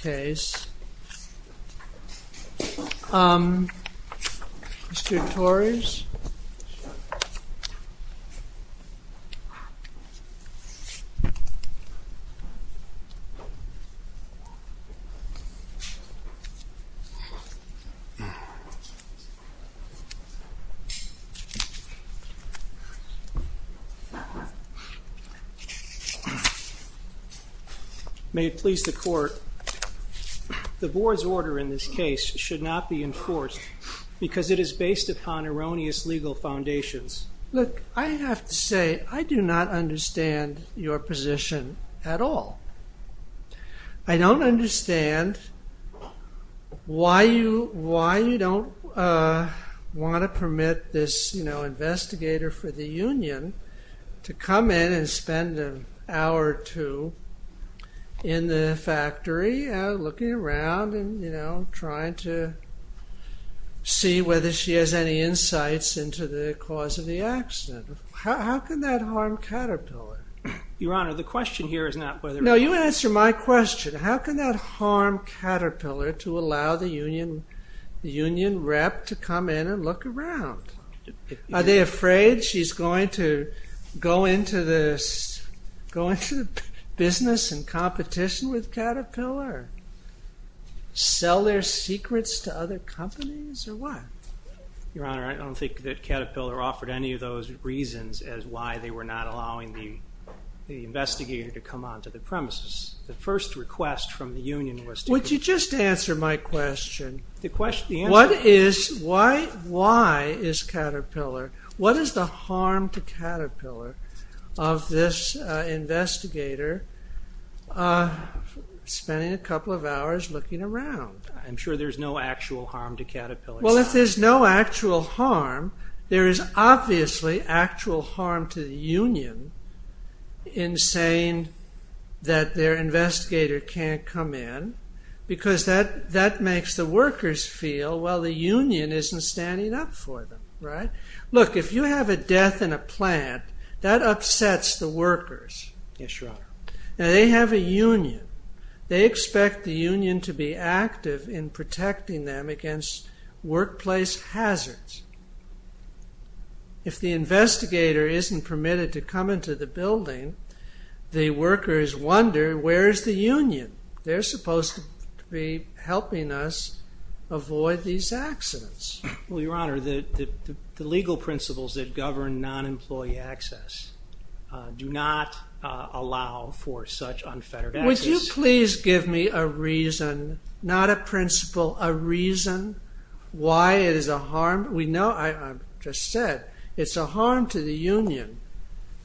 case. Mr. Torres, may it please the court, the board's order in this case should not be enforced because it is based upon erroneous legal foundations. Look, I have to say, I do not understand your position at all. I don't understand why you don't want to permit this, you know, investigator for the Union to come in and spend an hour or two in the factory looking around and, you know, trying to see whether she has any insights into the cause of the accident. How can that harm Caterpillar? Your Honor, the question here is not whether... No, you answer my question. How can that harm Caterpillar to allow the Union rep to come in and look around? Are they afraid she's going to go into business and competition with Caterpillar? Sell their secrets to other companies or what? Your Honor, I don't think that Caterpillar offered any of those reasons as why they were not allowing the investigator to come onto the premises. The first request from the Union was... Would you just answer my question. Why is Caterpillar... What is the harm to Caterpillar of this investigator spending a couple of hours looking around? I'm sure there's no actual harm to Caterpillar. Well, if there's no actual harm, there is obviously actual harm to the Union in saying that their investigator can't come in because that makes the Union stop for them, right? Look, if you have a death in a plant, that upsets the workers. Yes, Your Honor. Now, they have a Union. They expect the Union to be active in protecting them against workplace hazards. If the investigator isn't permitted to come into the building, the workers wonder, where's the Union? They're supposed to be helping us avoid these accidents. Well, Your Honor, the legal principles that govern non-employee access do not allow for such unfettered access. Would you please give me a reason, not a principle, a reason why it is a harm? We know, I just said, it's a harm to the Union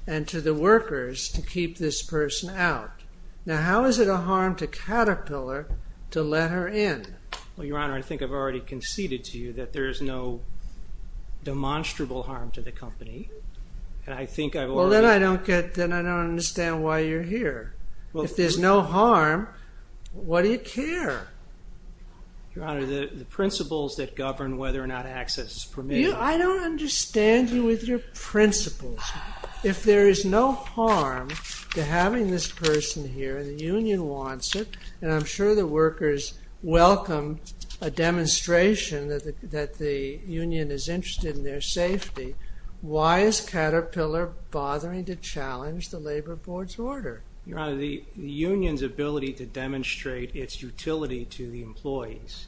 and to the workers to keep this Well, Your Honor, I think I've already conceded to you that there is no demonstrable harm to the company. And I think I've already... Well, then I don't get, then I don't understand why you're here. If there's no harm, why do you care? Your Honor, the principles that govern whether or not access is permitted... I don't understand you with your principles. If there is no harm to having this person here, and the Union wants it, and I'm sure the workers welcome a demonstration that the Union is interested in their safety, why is Caterpillar bothering to challenge the Labor Board's order? Your Honor, the Union's ability to demonstrate its utility to the employees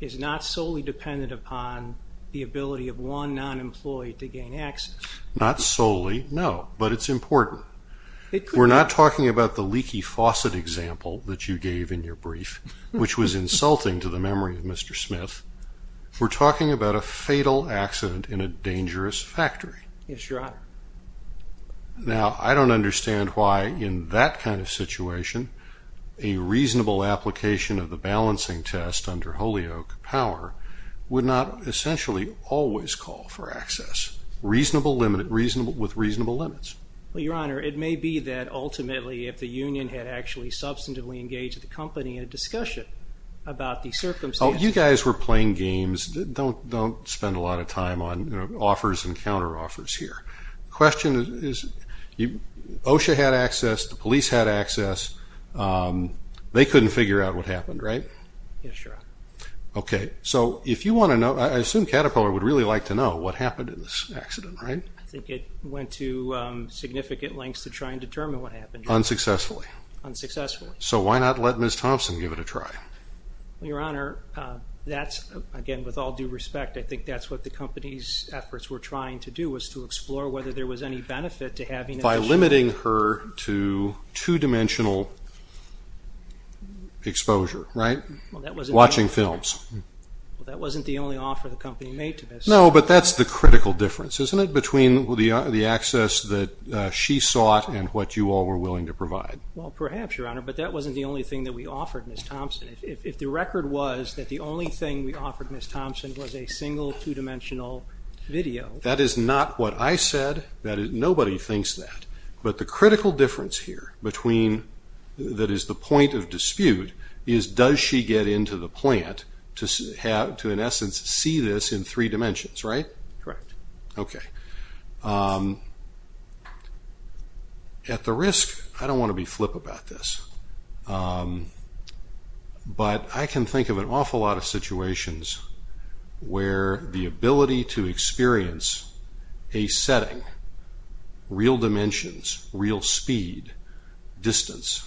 is not solely dependent upon the ability of one non-employee to gain access. Not solely, no, but it's important. We're not talking about the leaky faucet example that you gave in your brief, which was insulting to the memory of Mr. Smith. We're talking about a fatal accident in a dangerous factory. Yes, Your Honor. Now, I don't understand why, in that kind of situation, a reasonable application of the balancing test under Holyoke Power would not essentially always call for access, with reasonable limits. Your Honor, it may be that ultimately, if the Union had actually substantively engaged the company in a discussion about the circumstances... You guys were playing games. Don't spend a lot of time on offers and counter-offers here. The question is, OSHA had access, the police had access, they couldn't figure out what happened, right? Yes, Your Honor. Okay, so if you want to know, I assume Caterpillar would really like to know what happened in this accident, right? I think it went to significant lengths to try and determine what happened. Unsuccessfully. Unsuccessfully. So why not let Ms. Thompson give it a try? Your Honor, that's, again, with all due respect, I think that's what the company's efforts were trying to do, was to explore whether there was any benefit to having... By limiting her to two-dimensional exposure, right? Watching films. Well, that wasn't the only offer the company made to Ms. Thompson. No, but that's the critical difference, isn't it, between the access that she sought and what you all were willing to provide? Well, perhaps, Your Honor, but that wasn't the only thing that we offered Ms. Thompson. If the record was that the only thing we offered Ms. Thompson was a single, two-dimensional video... That is not what I said. Nobody thinks that. But the critical difference here between... That is the point of dispute is, does she get into the plant to, in essence, see this in three dimensions, right? Correct. Okay. At the risk, I don't want to be flip about this, but I can think of an awful lot of situations where the ability to experience a setting, real dimensions, real speed, distance,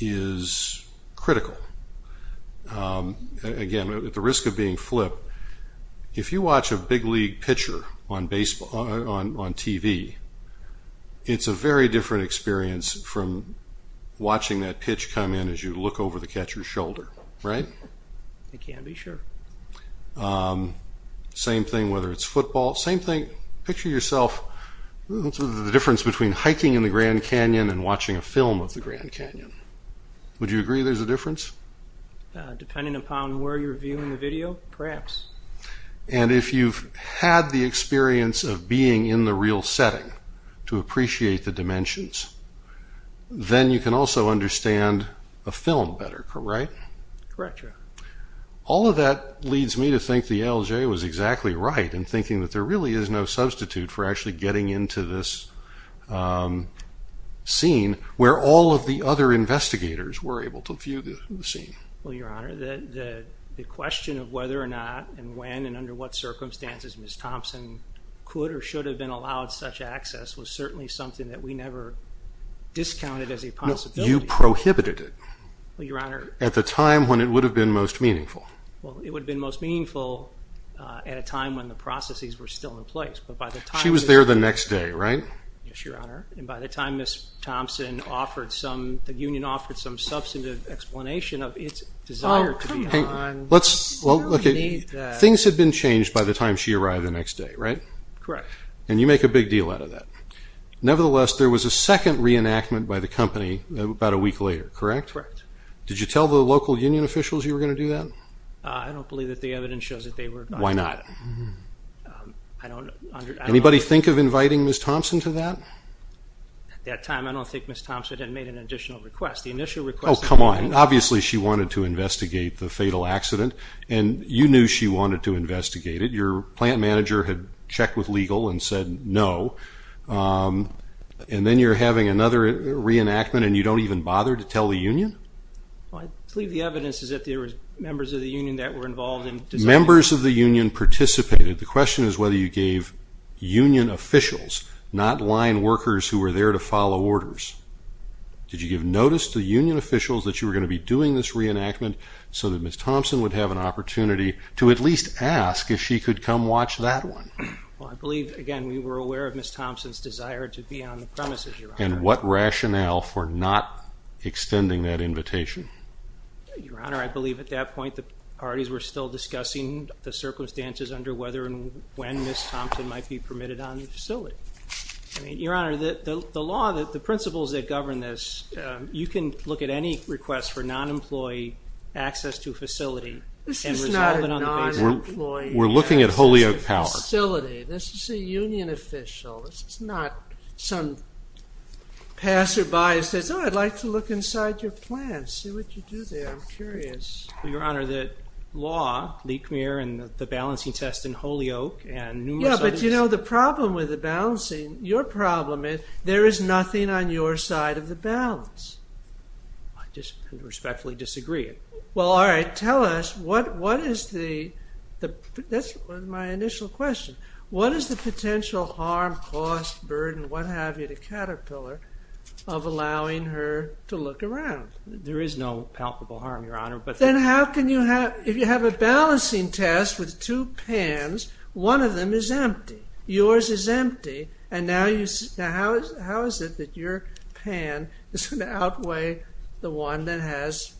is critical. Again, at the risk of being flip, if you watch a big league pitcher on TV, it's a very different experience from watching that pitch come in as you look over the catcher's shoulder, right? I can't be sure. Same thing, whether it's football. Same thing, picture yourself, the difference between hiking in the Grand Canyon and watching a film of the Grand Canyon. Would you agree there's a difference? Depending upon where you're viewing the video, perhaps. And if you've had the experience of being in the real setting to appreciate the dimensions, then you can also understand a film better, right? Correct, Your Honor. All of that leads me to think the ALJ was exactly right in thinking that there really is no substitute for actually getting into this scene where all of the other investigators were able to view the scene. Well, Your Honor, the question of whether or not and when and under what circumstances Ms. Thompson could or should have been allowed such access was certainly something that we never discounted as a possibility. No, you prohibited it. Well, Your Honor. At the time when it would have been most meaningful. Well, it would have been most meaningful at a time when the processes were still in place, but by the time... She was there the next day, right? Yes, Your Honor. And by the time Ms. Thompson offered some, the union offered some substantive explanation of its desire to be... Oh, come on. Let's... Well, look, things had been changed by the time she arrived the next day, right? Correct. And you make a big deal out of that. Nevertheless, there was a second reenactment by the company about a week later, correct? Correct. Did you tell the local union officials you were going to do that? I don't believe that the evidence shows that they were... Why not? I don't... Anybody think of inviting Ms. Thompson to that? At that time, I don't think Ms. Thompson had made an additional request. The initial request... Oh, come on. Obviously, she wanted to investigate the fatal accident, and you knew she wanted to investigate it. Your plant manager had checked with legal and said no, and then you're having another reenactment and you don't even bother to tell the union? Well, I believe the evidence is that there were members of the union that were involved in... Members of the union participated. The question is whether you gave union officials, not line workers who were there to follow orders. Did you give notice to union officials that you were going to be doing this reenactment so that Ms. Thompson would have an opportunity to at least ask if she could come watch that one? Well, I believe, again, we were aware of Ms. Thompson's desire to be on the premises, Your Honor. And what rationale for not extending that invitation? Your Honor, I believe at that point, the parties were still discussing the circumstances under whether and when Ms. Thompson might be permitted on the facility. I mean, Your Honor, the law, the principles that govern this, you can look at any request for non-employee access to a facility and resolve it on the basis... This is not a non-employee access to a facility. We're looking at Holyoke Power. This is a union official. This is not some passer-by who says, oh, I'd like to look inside your plant, see what you do there. I'm curious. Your Honor, the law, Leekmuir and the balancing test in Holyoke and numerous others... Yeah, but you know, the problem with the balancing, your problem is there is nothing on your side of the balance. I just respectfully disagree. Well, all right, tell us what is the... That's my initial question. What is the potential harm, cost, burden, what have you, to Caterpillar of allowing her to look around? There is no palpable harm, Your Honor, but... Then how can you have... If you have a balancing test with two pans, one of them is empty. Yours is empty. And now you... Now, how is it that your pan is going to outweigh the one that has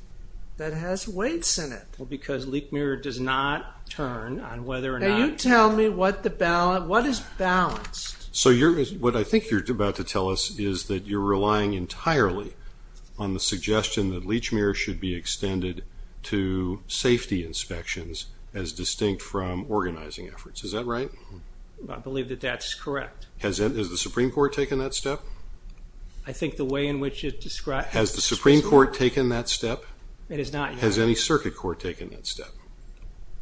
weights in it? Because Leekmuir does not turn on whether or not... Can you tell me what is balanced? So what I think you're about to tell us is that you're relying entirely on the suggestion that Leekmuir should be extended to safety inspections as distinct from organizing efforts. Is that right? I believe that that's correct. Has the Supreme Court taken that step? I think the way in which it describes... Has the Supreme Court taken that step? It has not, Your Honor. Has any circuit court taken that step?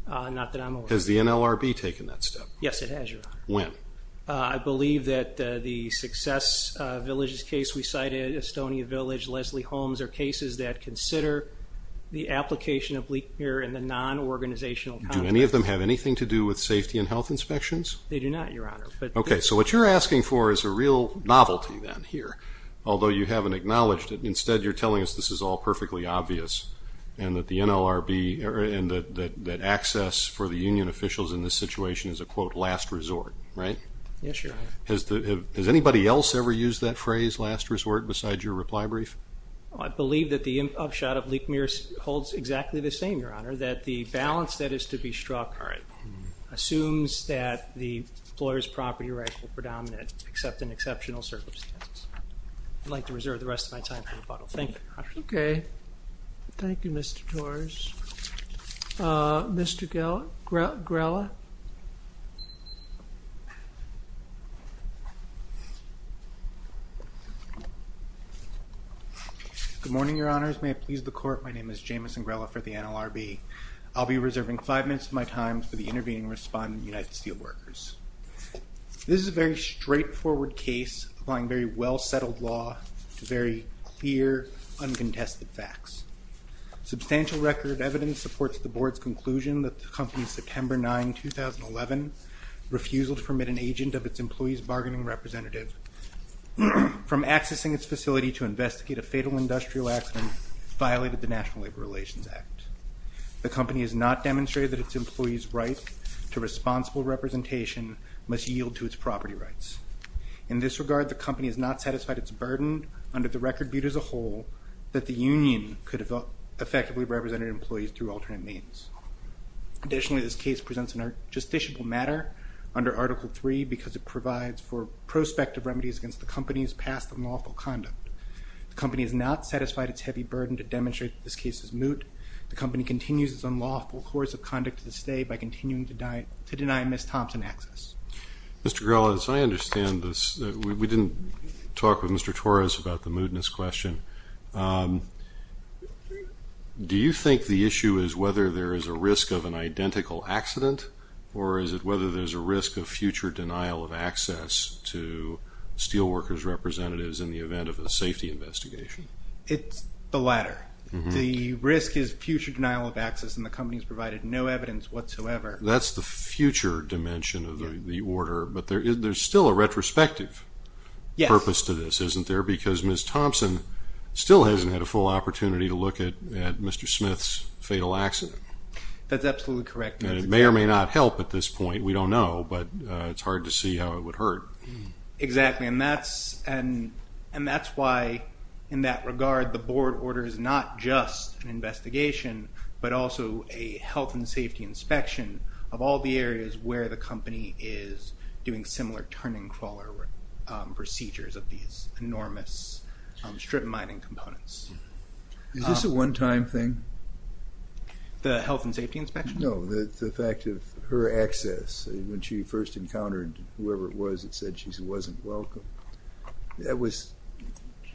Not that I'm aware of. Has the NLRB taken that step? Yes, it has, Your Honor. When? I believe that the Success Villages case we cited, Estonia Village, Leslie Holmes, are cases that consider the application of Leekmuir in the non-organizational context. Do any of them have anything to do with safety and health inspections? They do not, Your Honor, but... Okay, so what you're asking for is a real novelty then here, although you haven't acknowledged it. Instead, you're telling us this is all perfectly obvious and that access for the union officials in this situation is a, quote, last resort, right? Yes, Your Honor. Has anybody else ever used that phrase, last resort, besides your reply brief? I believe that the upshot of Leekmuir holds exactly the same, Your Honor, that the balance that is to be struck assumes that the employer's property rights are predominant, except in exceptional circumstances. I'd like to reserve the rest of my time for rebuttal. Thank you, Your Honor. Okay. Thank you, Mr. Torres. Mr. Grella? Good morning, Your Honors. May it please the Court, my name is Jamison Grella for the NLRB. I'll be reserving five minutes of my time for the intervening respondent, United Steel Workers. This is a very straightforward case applying very well-settled law to very clear, uncontested facts. Substantial record of evidence supports the Board's conclusion that the company's September 9, 2011 refusal to permit an agent of its employees' bargaining representative from accessing its facility to investigate a fatal industrial accident violated the National Labor Relations Act. The company has not demonstrated that its employees' right to responsible representation must yield to its property rights. In this regard, the company has not satisfied its burden under the record viewed as a whole that the union could have effectively represented employees through alternate means. Additionally, this case presents a justiciable matter under Article III because it provides for prospective remedies against the company's past unlawful conduct. The company has not satisfied its heavy burden to demonstrate that this case is moot. The company continues its unlawful course of conduct to this day by continuing to deny Ms. Thompson access. Mr. Grella, as I understand this, we didn't talk with Mr. Torres about the mootness question. Do you think the issue is whether there is a risk of an identical accident or is it whether there's a risk of future denial of access to steel workers' representatives in the event of a safety investigation? It's the latter. The risk is future denial of access and the company has provided no evidence whatsoever. That's the future dimension of the order. But there's still a retrospective purpose to this, isn't there? Because Ms. Thompson still hasn't had a full opportunity to look at Mr. Smith's fatal accident. That's absolutely correct. And it may or may not help at this point. We don't know, but it's hard to see how it would hurt. Exactly. And that's why, in that regard, the board orders not just an investigation but also a health and safety inspection of all the areas where the company is doing similar turn-and-crawler procedures of these enormous strip mining components. Is this a one-time thing? The health and safety inspection? No, the fact of her access. When she first encountered whoever it was, it said she wasn't welcome. That was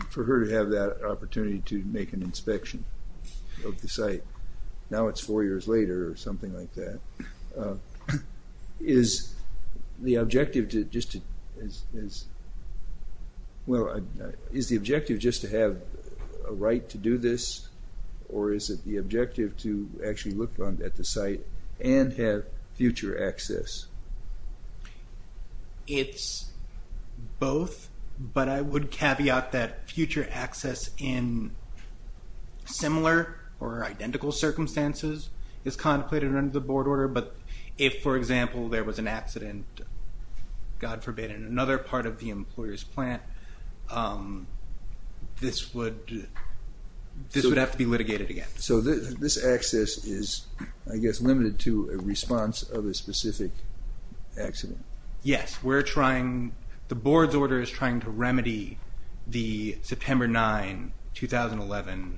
for her to have that opportunity to make an inspection of the site. Now it's four years later or something like that. Is the objective just to have a right to do this? Or is it the objective to actually look at the site and have future access? It's both. But I would caveat that future access in similar or identical circumstances is contemplated under the board order. But if, for example, there was an accident, God forbid, in another part of the employer's plant, this would have to be litigated again. So this access is, I guess, limited to a response of a specific accident? Yes. The board's order is trying to remedy the September 9, 2011,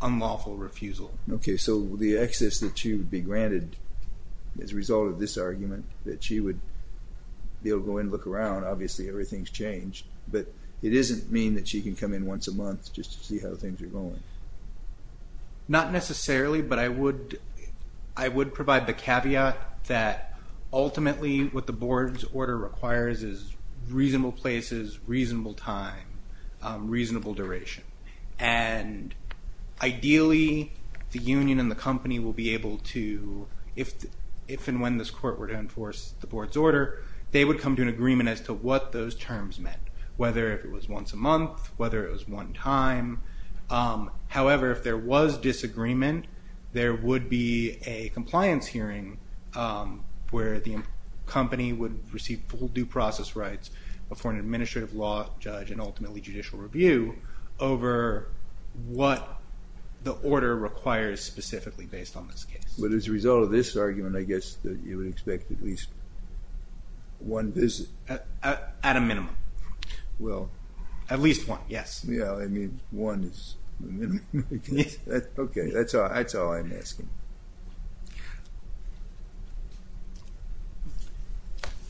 unlawful refusal. Okay. So the access that she would be granted as a result of this argument, that she would be able to go and look around. Obviously, everything's changed. But it doesn't mean that she can come in once a month just to see how things are going. Not necessarily. But I would provide the caveat that ultimately, what the board's order requires is reasonable places, reasonable time, reasonable duration. And ideally, the union and the company will be able to, if and when this court were to enforce the board's order, they would come to an agreement as to what those terms meant, whether it was once a month, whether it was one time. However, if there was disagreement, there would be a compliance hearing where the company would receive full due process rights before an administrative law judge and ultimately judicial review over what the order requires specifically based on this case. But as a result of this argument, I guess that you would expect at least one visit. At a minimum. Well... At least one, yes. Yeah, I mean, one is... Okay, that's all I'm asking.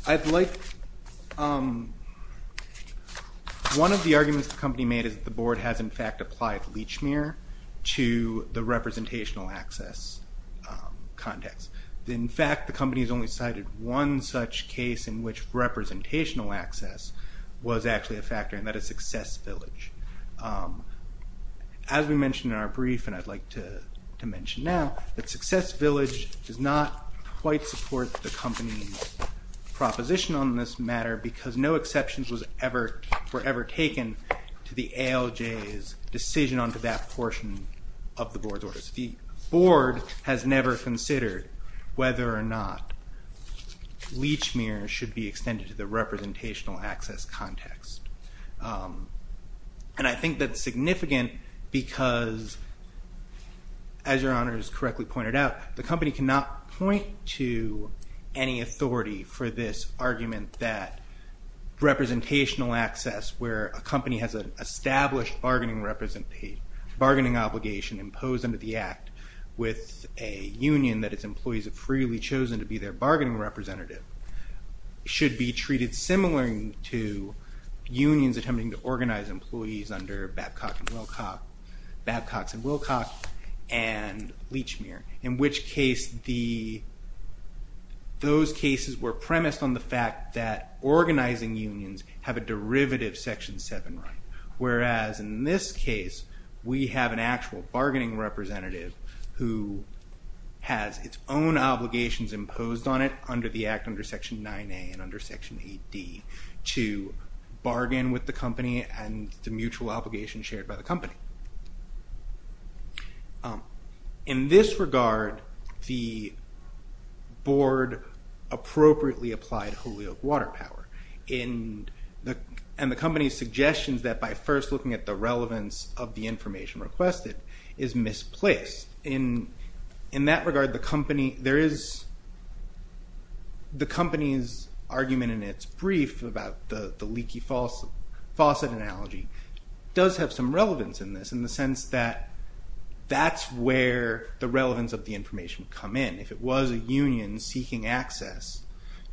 I'd like... One of the arguments the company made is that the board has in fact applied leech mirror to the representational access context. In fact, the company has only cited one such case in which representational access was actually a factor, and that is Success Village. As we mentioned in our brief, and I'd like to mention now, that Success Village does not quite support the company's proposition on this matter because no exceptions were ever taken to the ALJ's decision onto that portion of the board's orders. The board has never considered whether or not leech mirror should be extended to the representational access context. And I think that's significant because as Your Honor has correctly pointed out, the company cannot point to any authority for this argument that representational access, where a company has an established bargaining obligation imposed under the act with a union that its employees have freely chosen to be their bargaining representative, should be treated similar to unions attempting to organize employees under Babcock and Wilcox and leech mirror. In which case, those cases were premised on the fact that organizing unions have a derivative section 7 right. Whereas in this case, we have an actual bargaining representative who has its own obligations imposed on it under the act under section 9A and under section 8D and the mutual obligation shared by the company. In this regard, the board appropriately applied Holyoke water power and the company's suggestions that by first looking at the relevance of the information requested is misplaced. In that regard, the company's argument in its brief about the leaky faucet analogy does have some relevance in this in the sense that that's where the relevance of the information would come in. If it was a union seeking access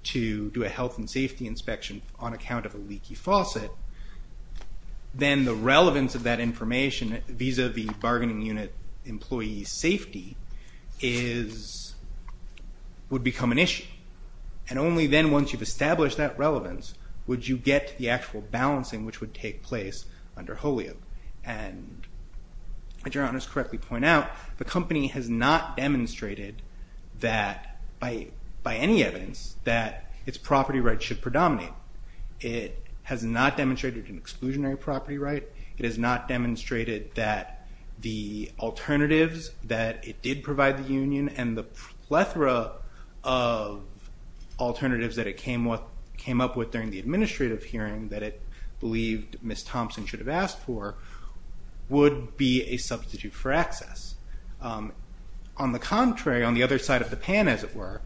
to do a health and safety inspection on account of a leaky faucet, then the relevance of that information vis-a-vis bargaining unit employee safety would become an issue. And only then once you've established that relevance would you get the actual balancing which would take place under Holyoke. And to correctly point out, the company has not demonstrated that by any evidence that its property rights should predominate. It has not demonstrated an exclusionary property right. It has not demonstrated that the alternatives that it did provide the union and the plethora of alternatives that it came up with during the administrative hearing that it believed Ms. Thompson should have asked for would be a substitute for access. On the contrary, on the other side of the pan as it were,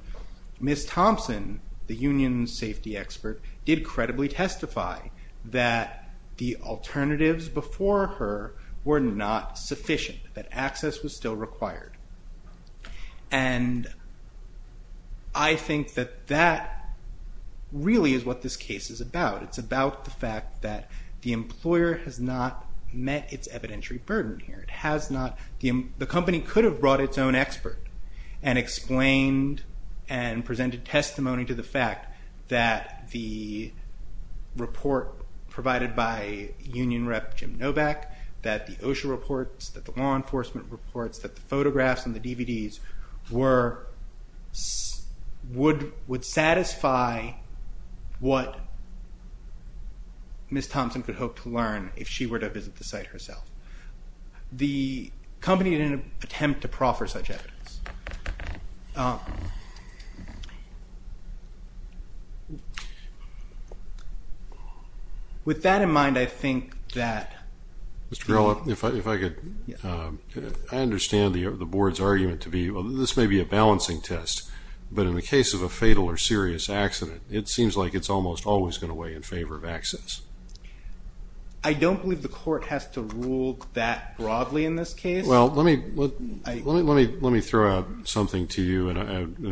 Ms. Thompson, the union safety expert, did credibly testify that the alternatives before her were not sufficient, that access was still required. And I think that that really is what this case is about. It's about the fact that the employer has not met its evidentiary burden here. It has not. The company could have brought its own expert and explained and presented testimony to the fact that the report provided by union rep Jim Novak, that the OSHA reports, that the law enforcement reports, that the photographs and the DVDs were, would satisfy what Ms. Thompson could hope to learn if she were to visit the site herself. The company didn't attempt to proffer such evidence. With that in mind, I think that... Mr. Grillo, if I could... I understand the board's argument to be, this may be a balancing test, but in the case of a fatal or serious accident, it seems like it's almost always going to weigh in favor of access. I don't believe the court has to rule that broadly in this case. Well, let me throw out something to you, and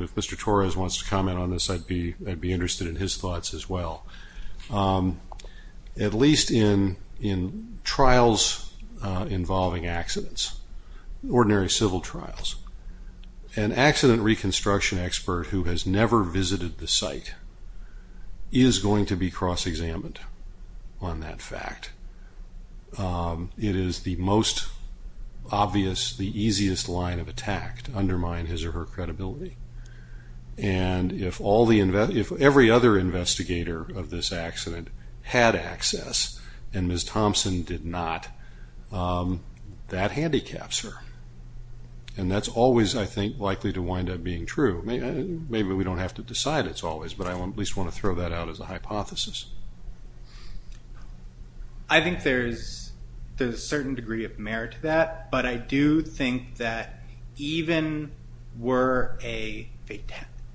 if Mr. Torres wants to comment on this, I'd be interested in his thoughts as well. At least in trials involving accidents, ordinary civil trials, an accident reconstruction expert who has never visited the site is going to be cross-examined on that fact. It is the most obvious, the easiest line of attack to undermine his or her credibility. And if every other investigator of this accident had access and Ms. Thompson did not, that handicaps her. And that's always, I think, likely to wind up being true. Maybe we don't have to decide it's always, but I at least want to throw that out as a hypothesis. I think there's a certain degree of merit to that, but I do think that even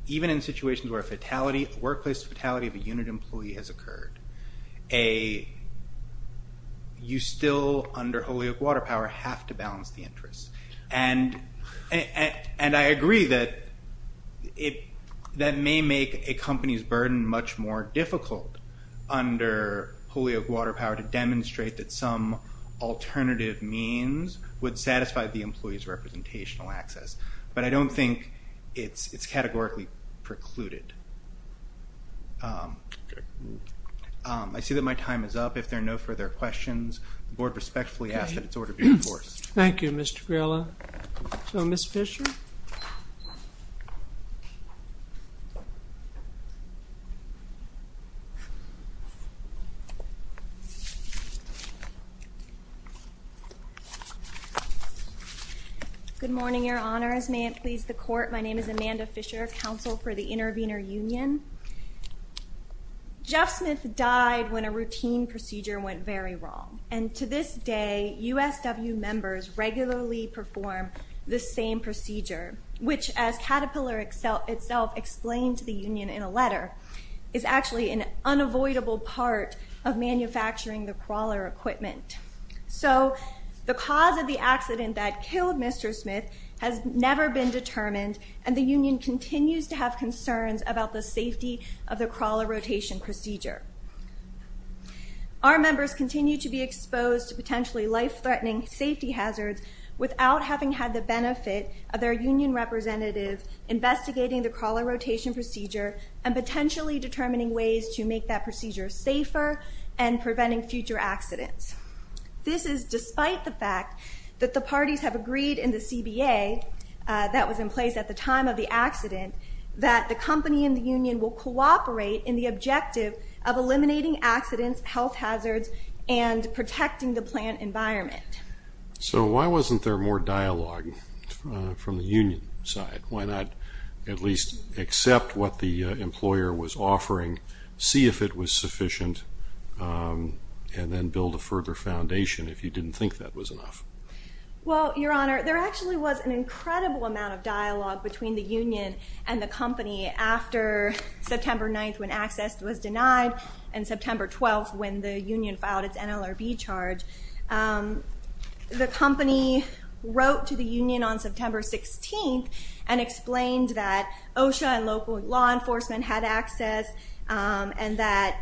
in situations where a workplace fatality of a unit employee has occurred, you still, under Holyoke Water Power, have to balance the interests. And I agree that it, that may make a company's burden much more difficult under Holyoke Water Power to demonstrate that some alternative means would satisfy the employee's representational access. But I don't think it's categorically precluded. I see that my time is up. If there are no further questions, the board respectfully ask that it's order be enforced. Thank you, Mr. Grillo. So, Ms. Fisher? Good morning, your honors. May it please the court. My name is Amanda Fisher, counsel for the Intervenor Union. Jeff Smith died when a routine procedure went very wrong. To this day, USW members regularly perform the same procedure, which as Caterpillar itself explained to the union in a letter, is actually an unavoidable part of manufacturing the crawler equipment. So, the cause of the accident that killed Mr. Smith has never been determined, and the union continues to have concerns about the safety of the crawler rotation procedure. Our members continue to be exposed to potentially life-threatening safety hazards without having had the benefit of their union representative investigating the crawler rotation procedure and potentially determining ways to make that procedure safer and preventing future accidents. This is despite the fact that the parties have agreed in the CBA that was in place at the time of the accident that the company and the union will cooperate in the objective of eliminating accidents, health hazards, and protecting the plant environment. So, why wasn't there more dialogue from the union side? Why not at least accept what the employer was offering, see if it was sufficient, and then build a further foundation if you didn't think that was enough? Well, Your Honor, there actually was an incredible amount of dialogue between the union and the company after September 9th when access was denied and September 12th when the union filed its NLRB charge. The company wrote to the union on September 16th and explained that OSHA and local law enforcement had access and that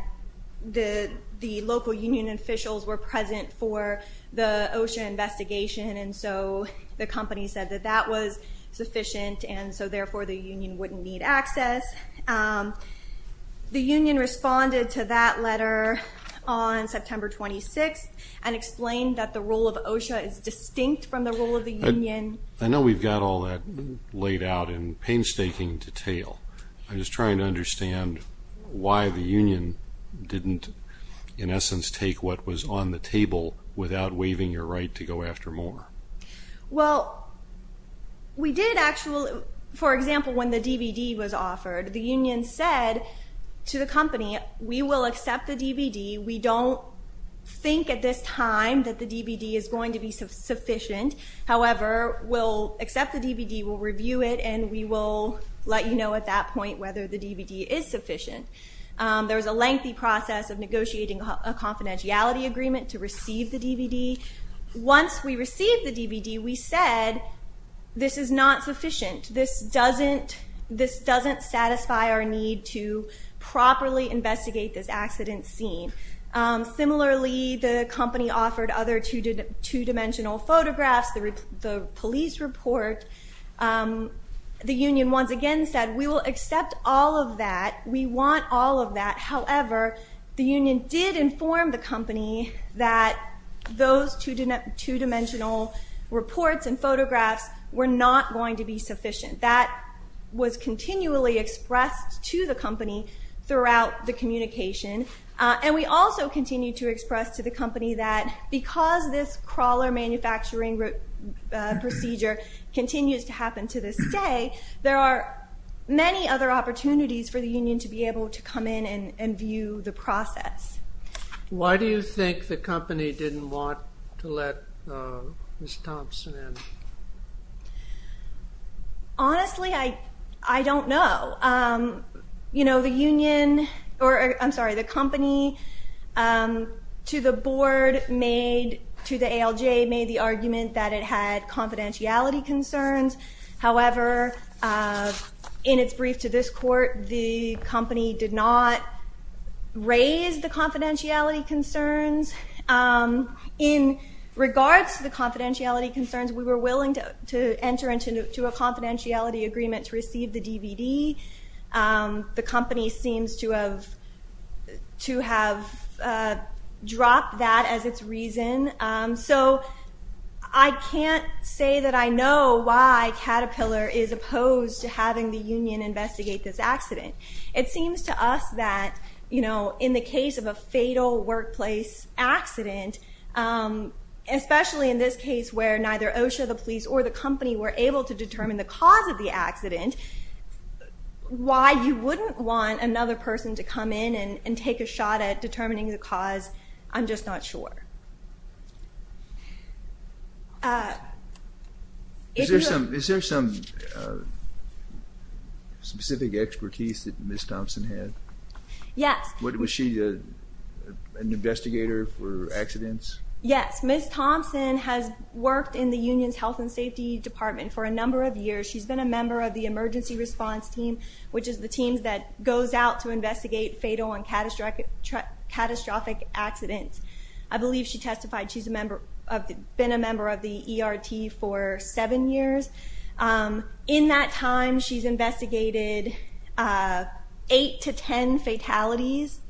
the local union officials were present for the OSHA investigation and so the company said that that was sufficient and so therefore the union wouldn't need access. The union responded to that letter on September 26th and explained that the role of OSHA is distinct from the role of the union. I know we've got all that laid out in painstaking detail. I'm just trying to understand why the union didn't, in essence, take what was on the table without waiving your right to go after more. Well, we did actually, for example, when the DVD was offered, the union said to the company, we will accept the DVD. We don't think at this time that the DVD is going to be sufficient. However, we'll accept the DVD, we'll review it and we will let you know at that point There was a lengthy process of negotiating a confidentiality agreement to receive the DVD. Once we received the DVD, we said this is not sufficient. This doesn't satisfy our need to properly investigate this accident scene. Similarly, the company offered other two-dimensional photographs, the police report. The union, once again, said we will accept all of that. We want all of that. However, the union did inform the company that those two-dimensional reports and photographs were not going to be sufficient. That was continually expressed to the company throughout the communication. And we also continued to express to the company that because this crawler manufacturing procedure continues to happen to this day, there are many other opportunities for the union to be able to come in and view the process. Why do you think the company didn't want to let Ms. Thompson in? Honestly, I don't know. The union, or I'm sorry, the company to the board made, to the ALJ made the argument that it had confidentiality concerns. However, in its brief to this court, the company did not raise the confidentiality concerns. In regards to the confidentiality concerns, we were willing to enter into a confidentiality agreement to receive the DVD. The company seems to have dropped that as its reason. So I can't say that I know why Caterpillar is opposed to having the union investigate this accident. It seems to us that, you know, in the case of a fatal workplace accident, especially in this case where neither OSHA, the police, or the company were able to determine the cause of the accident, why you wouldn't want another person to come in and take a shot at determining the cause, I'm just not sure. Is there some specific expertise that Ms. Thompson had? Yes. Was she an investigator for accidents? Yes. Ms. Thompson has worked in the union's health and safety department for a number of years. She's been a member of the emergency response team, to investigate fatal and catastrophic accidents. I believe she's been a member of the emergency response team for seven years. In that time, she's investigated eight to 10 fatalities.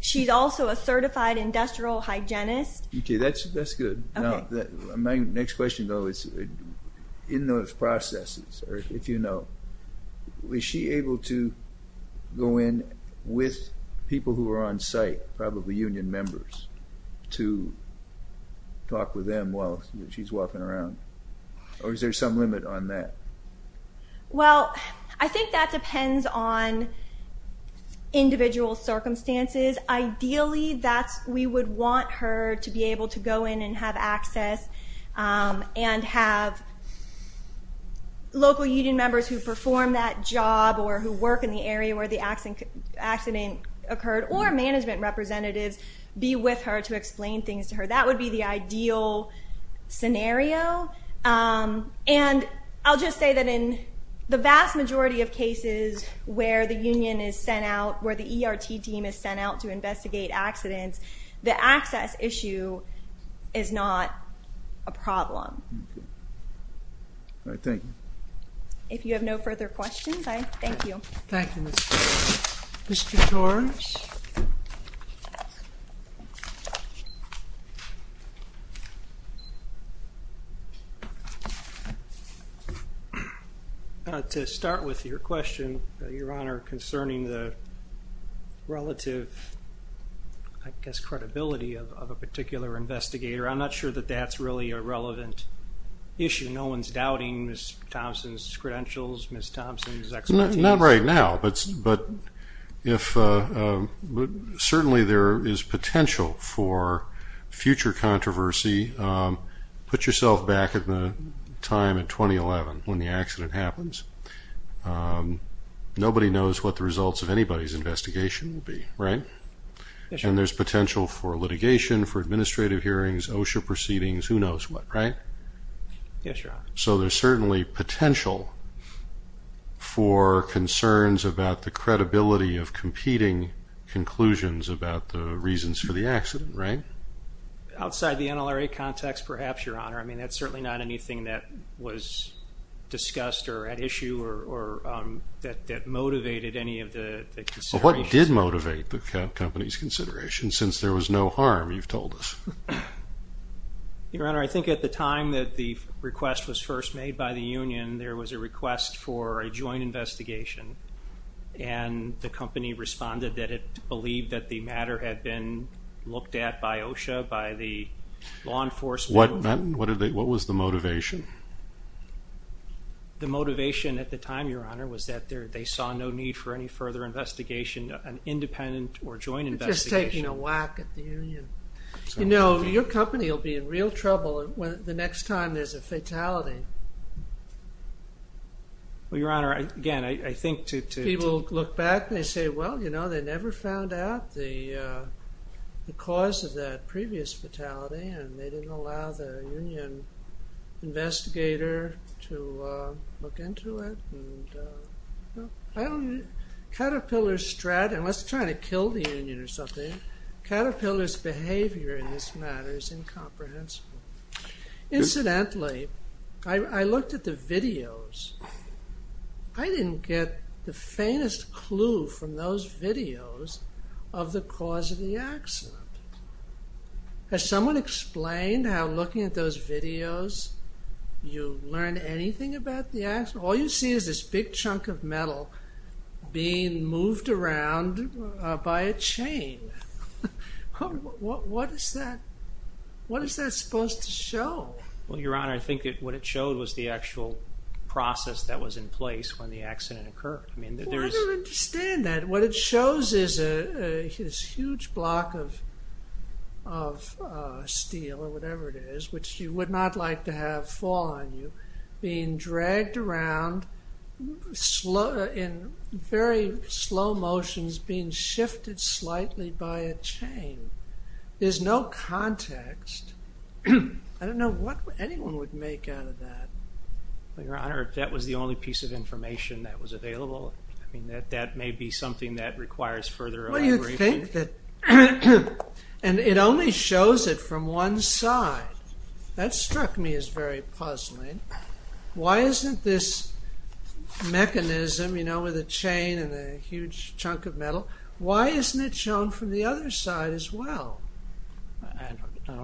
She's also a certified industrial hygienist. Okay, that's good. My next question, though, is in those processes, if you know, was she able to go in with people who were on site, probably union members? To talk with them while she's walking around? Or is there some limit on that? Well, I think that depends on individual circumstances. Ideally, we would want her to be able to go in and have access and have local union members who perform that job or who work in the area where the accident occurred, or management representatives be with her to explain things to her. That would be the ideal scenario. And I'll just say that in the vast majority of cases where the union is sent out, where the ERT team is sent out to investigate accidents, the access issue is not a problem. All right, thank you. If you have no further questions, I thank you. Thank you, Mr. Torres. To start with your question, Your Honor, concerning the relative, I guess, credibility of a particular investigator, I'm not sure that that's really a relevant issue. No one's doubting Ms. Thompson's credentials, Ms. Thompson's expertise. Not right now, but certainly there is potential for future controversy. Put yourself back at the time in 2011 when the accident happens. Nobody knows what the results of anybody's investigation will be, right? Yes, Your Honor. And there's potential for litigation, for administrative hearings, OSHA proceedings, who knows what, right? Yes, Your Honor. So there's certainly potential for concerns about the credibility of competing conclusions about the reasons for the accident, right? Outside the NLRA context, perhaps, Your Honor. I mean, that's certainly not anything that was discussed or at issue that motivated any of the consideration. Well, what did motivate the company's consideration since there was no harm, you've told us? Your Honor, I think at the time that the request was first made by the union, there was a request for a joint investigation and the company responded that it believed that the matter had been looked at by OSHA, by the law enforcement. What was the motivation? The motivation at the time, Your Honor, was that they saw no need for any further investigation, an independent or joint investigation. Just taking a whack at the union. You know, your company will be in real trouble the next time there's a fatality. Well, Your Honor, again, I think to... People look back, they say, well, you know, they never found out the cause of that previous fatality and they didn't allow the union investigator to look into it. Caterpillar's strategy, unless they're trying to kill the union or something, Caterpillar's behavior in this matter is incomprehensible. Incidentally, I looked at the videos. I didn't get the faintest clue from those videos of the cause of the accident. Has someone explained how looking at those videos, you learned anything about the accident? All you see is this big chunk of metal being moved around by a chain. What is that? What is that supposed to show? Well, Your Honor, I think what it showed was the actual process that was in place when the accident occurred. I don't understand that. What it shows is a huge block of steel or whatever it is, which you would not like to have fall on you, being dragged around in very slow motions, being shifted slightly by a chain. There's no context. I don't know what anyone would make out of that. Well, Your Honor, that was the only piece of information that was available. That may be something that requires further elaboration. Well, you think that... And it only shows it from one side. That struck me as very puzzling. Why isn't this mechanism, you know, with a chain and a huge chunk of metal, why isn't it shown from the other side as well?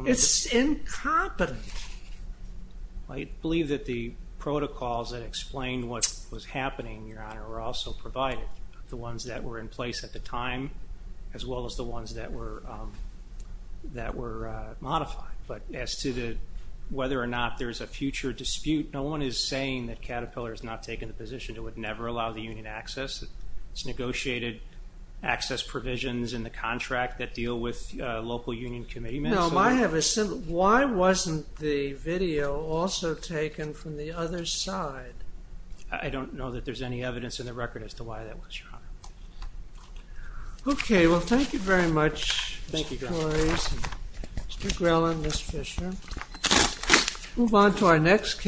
It's incompetent. I believe that the protocols that explain what was happening, were also provided. The ones that were in place at the time, as well as the ones that were modified. But as to whether or not there's a future dispute, no one is saying that Caterpillar has not taken the position it would never allow the union access. It's negotiated access provisions in the contract that deal with local union commitments. Why wasn't the video also taken from the other side? I don't know that there's any evidence in the record as to why that was, Your Honor. Okay. Well, thank you very much. Thank you. Mr. Grell and Ms. Fisher. Move on to our next...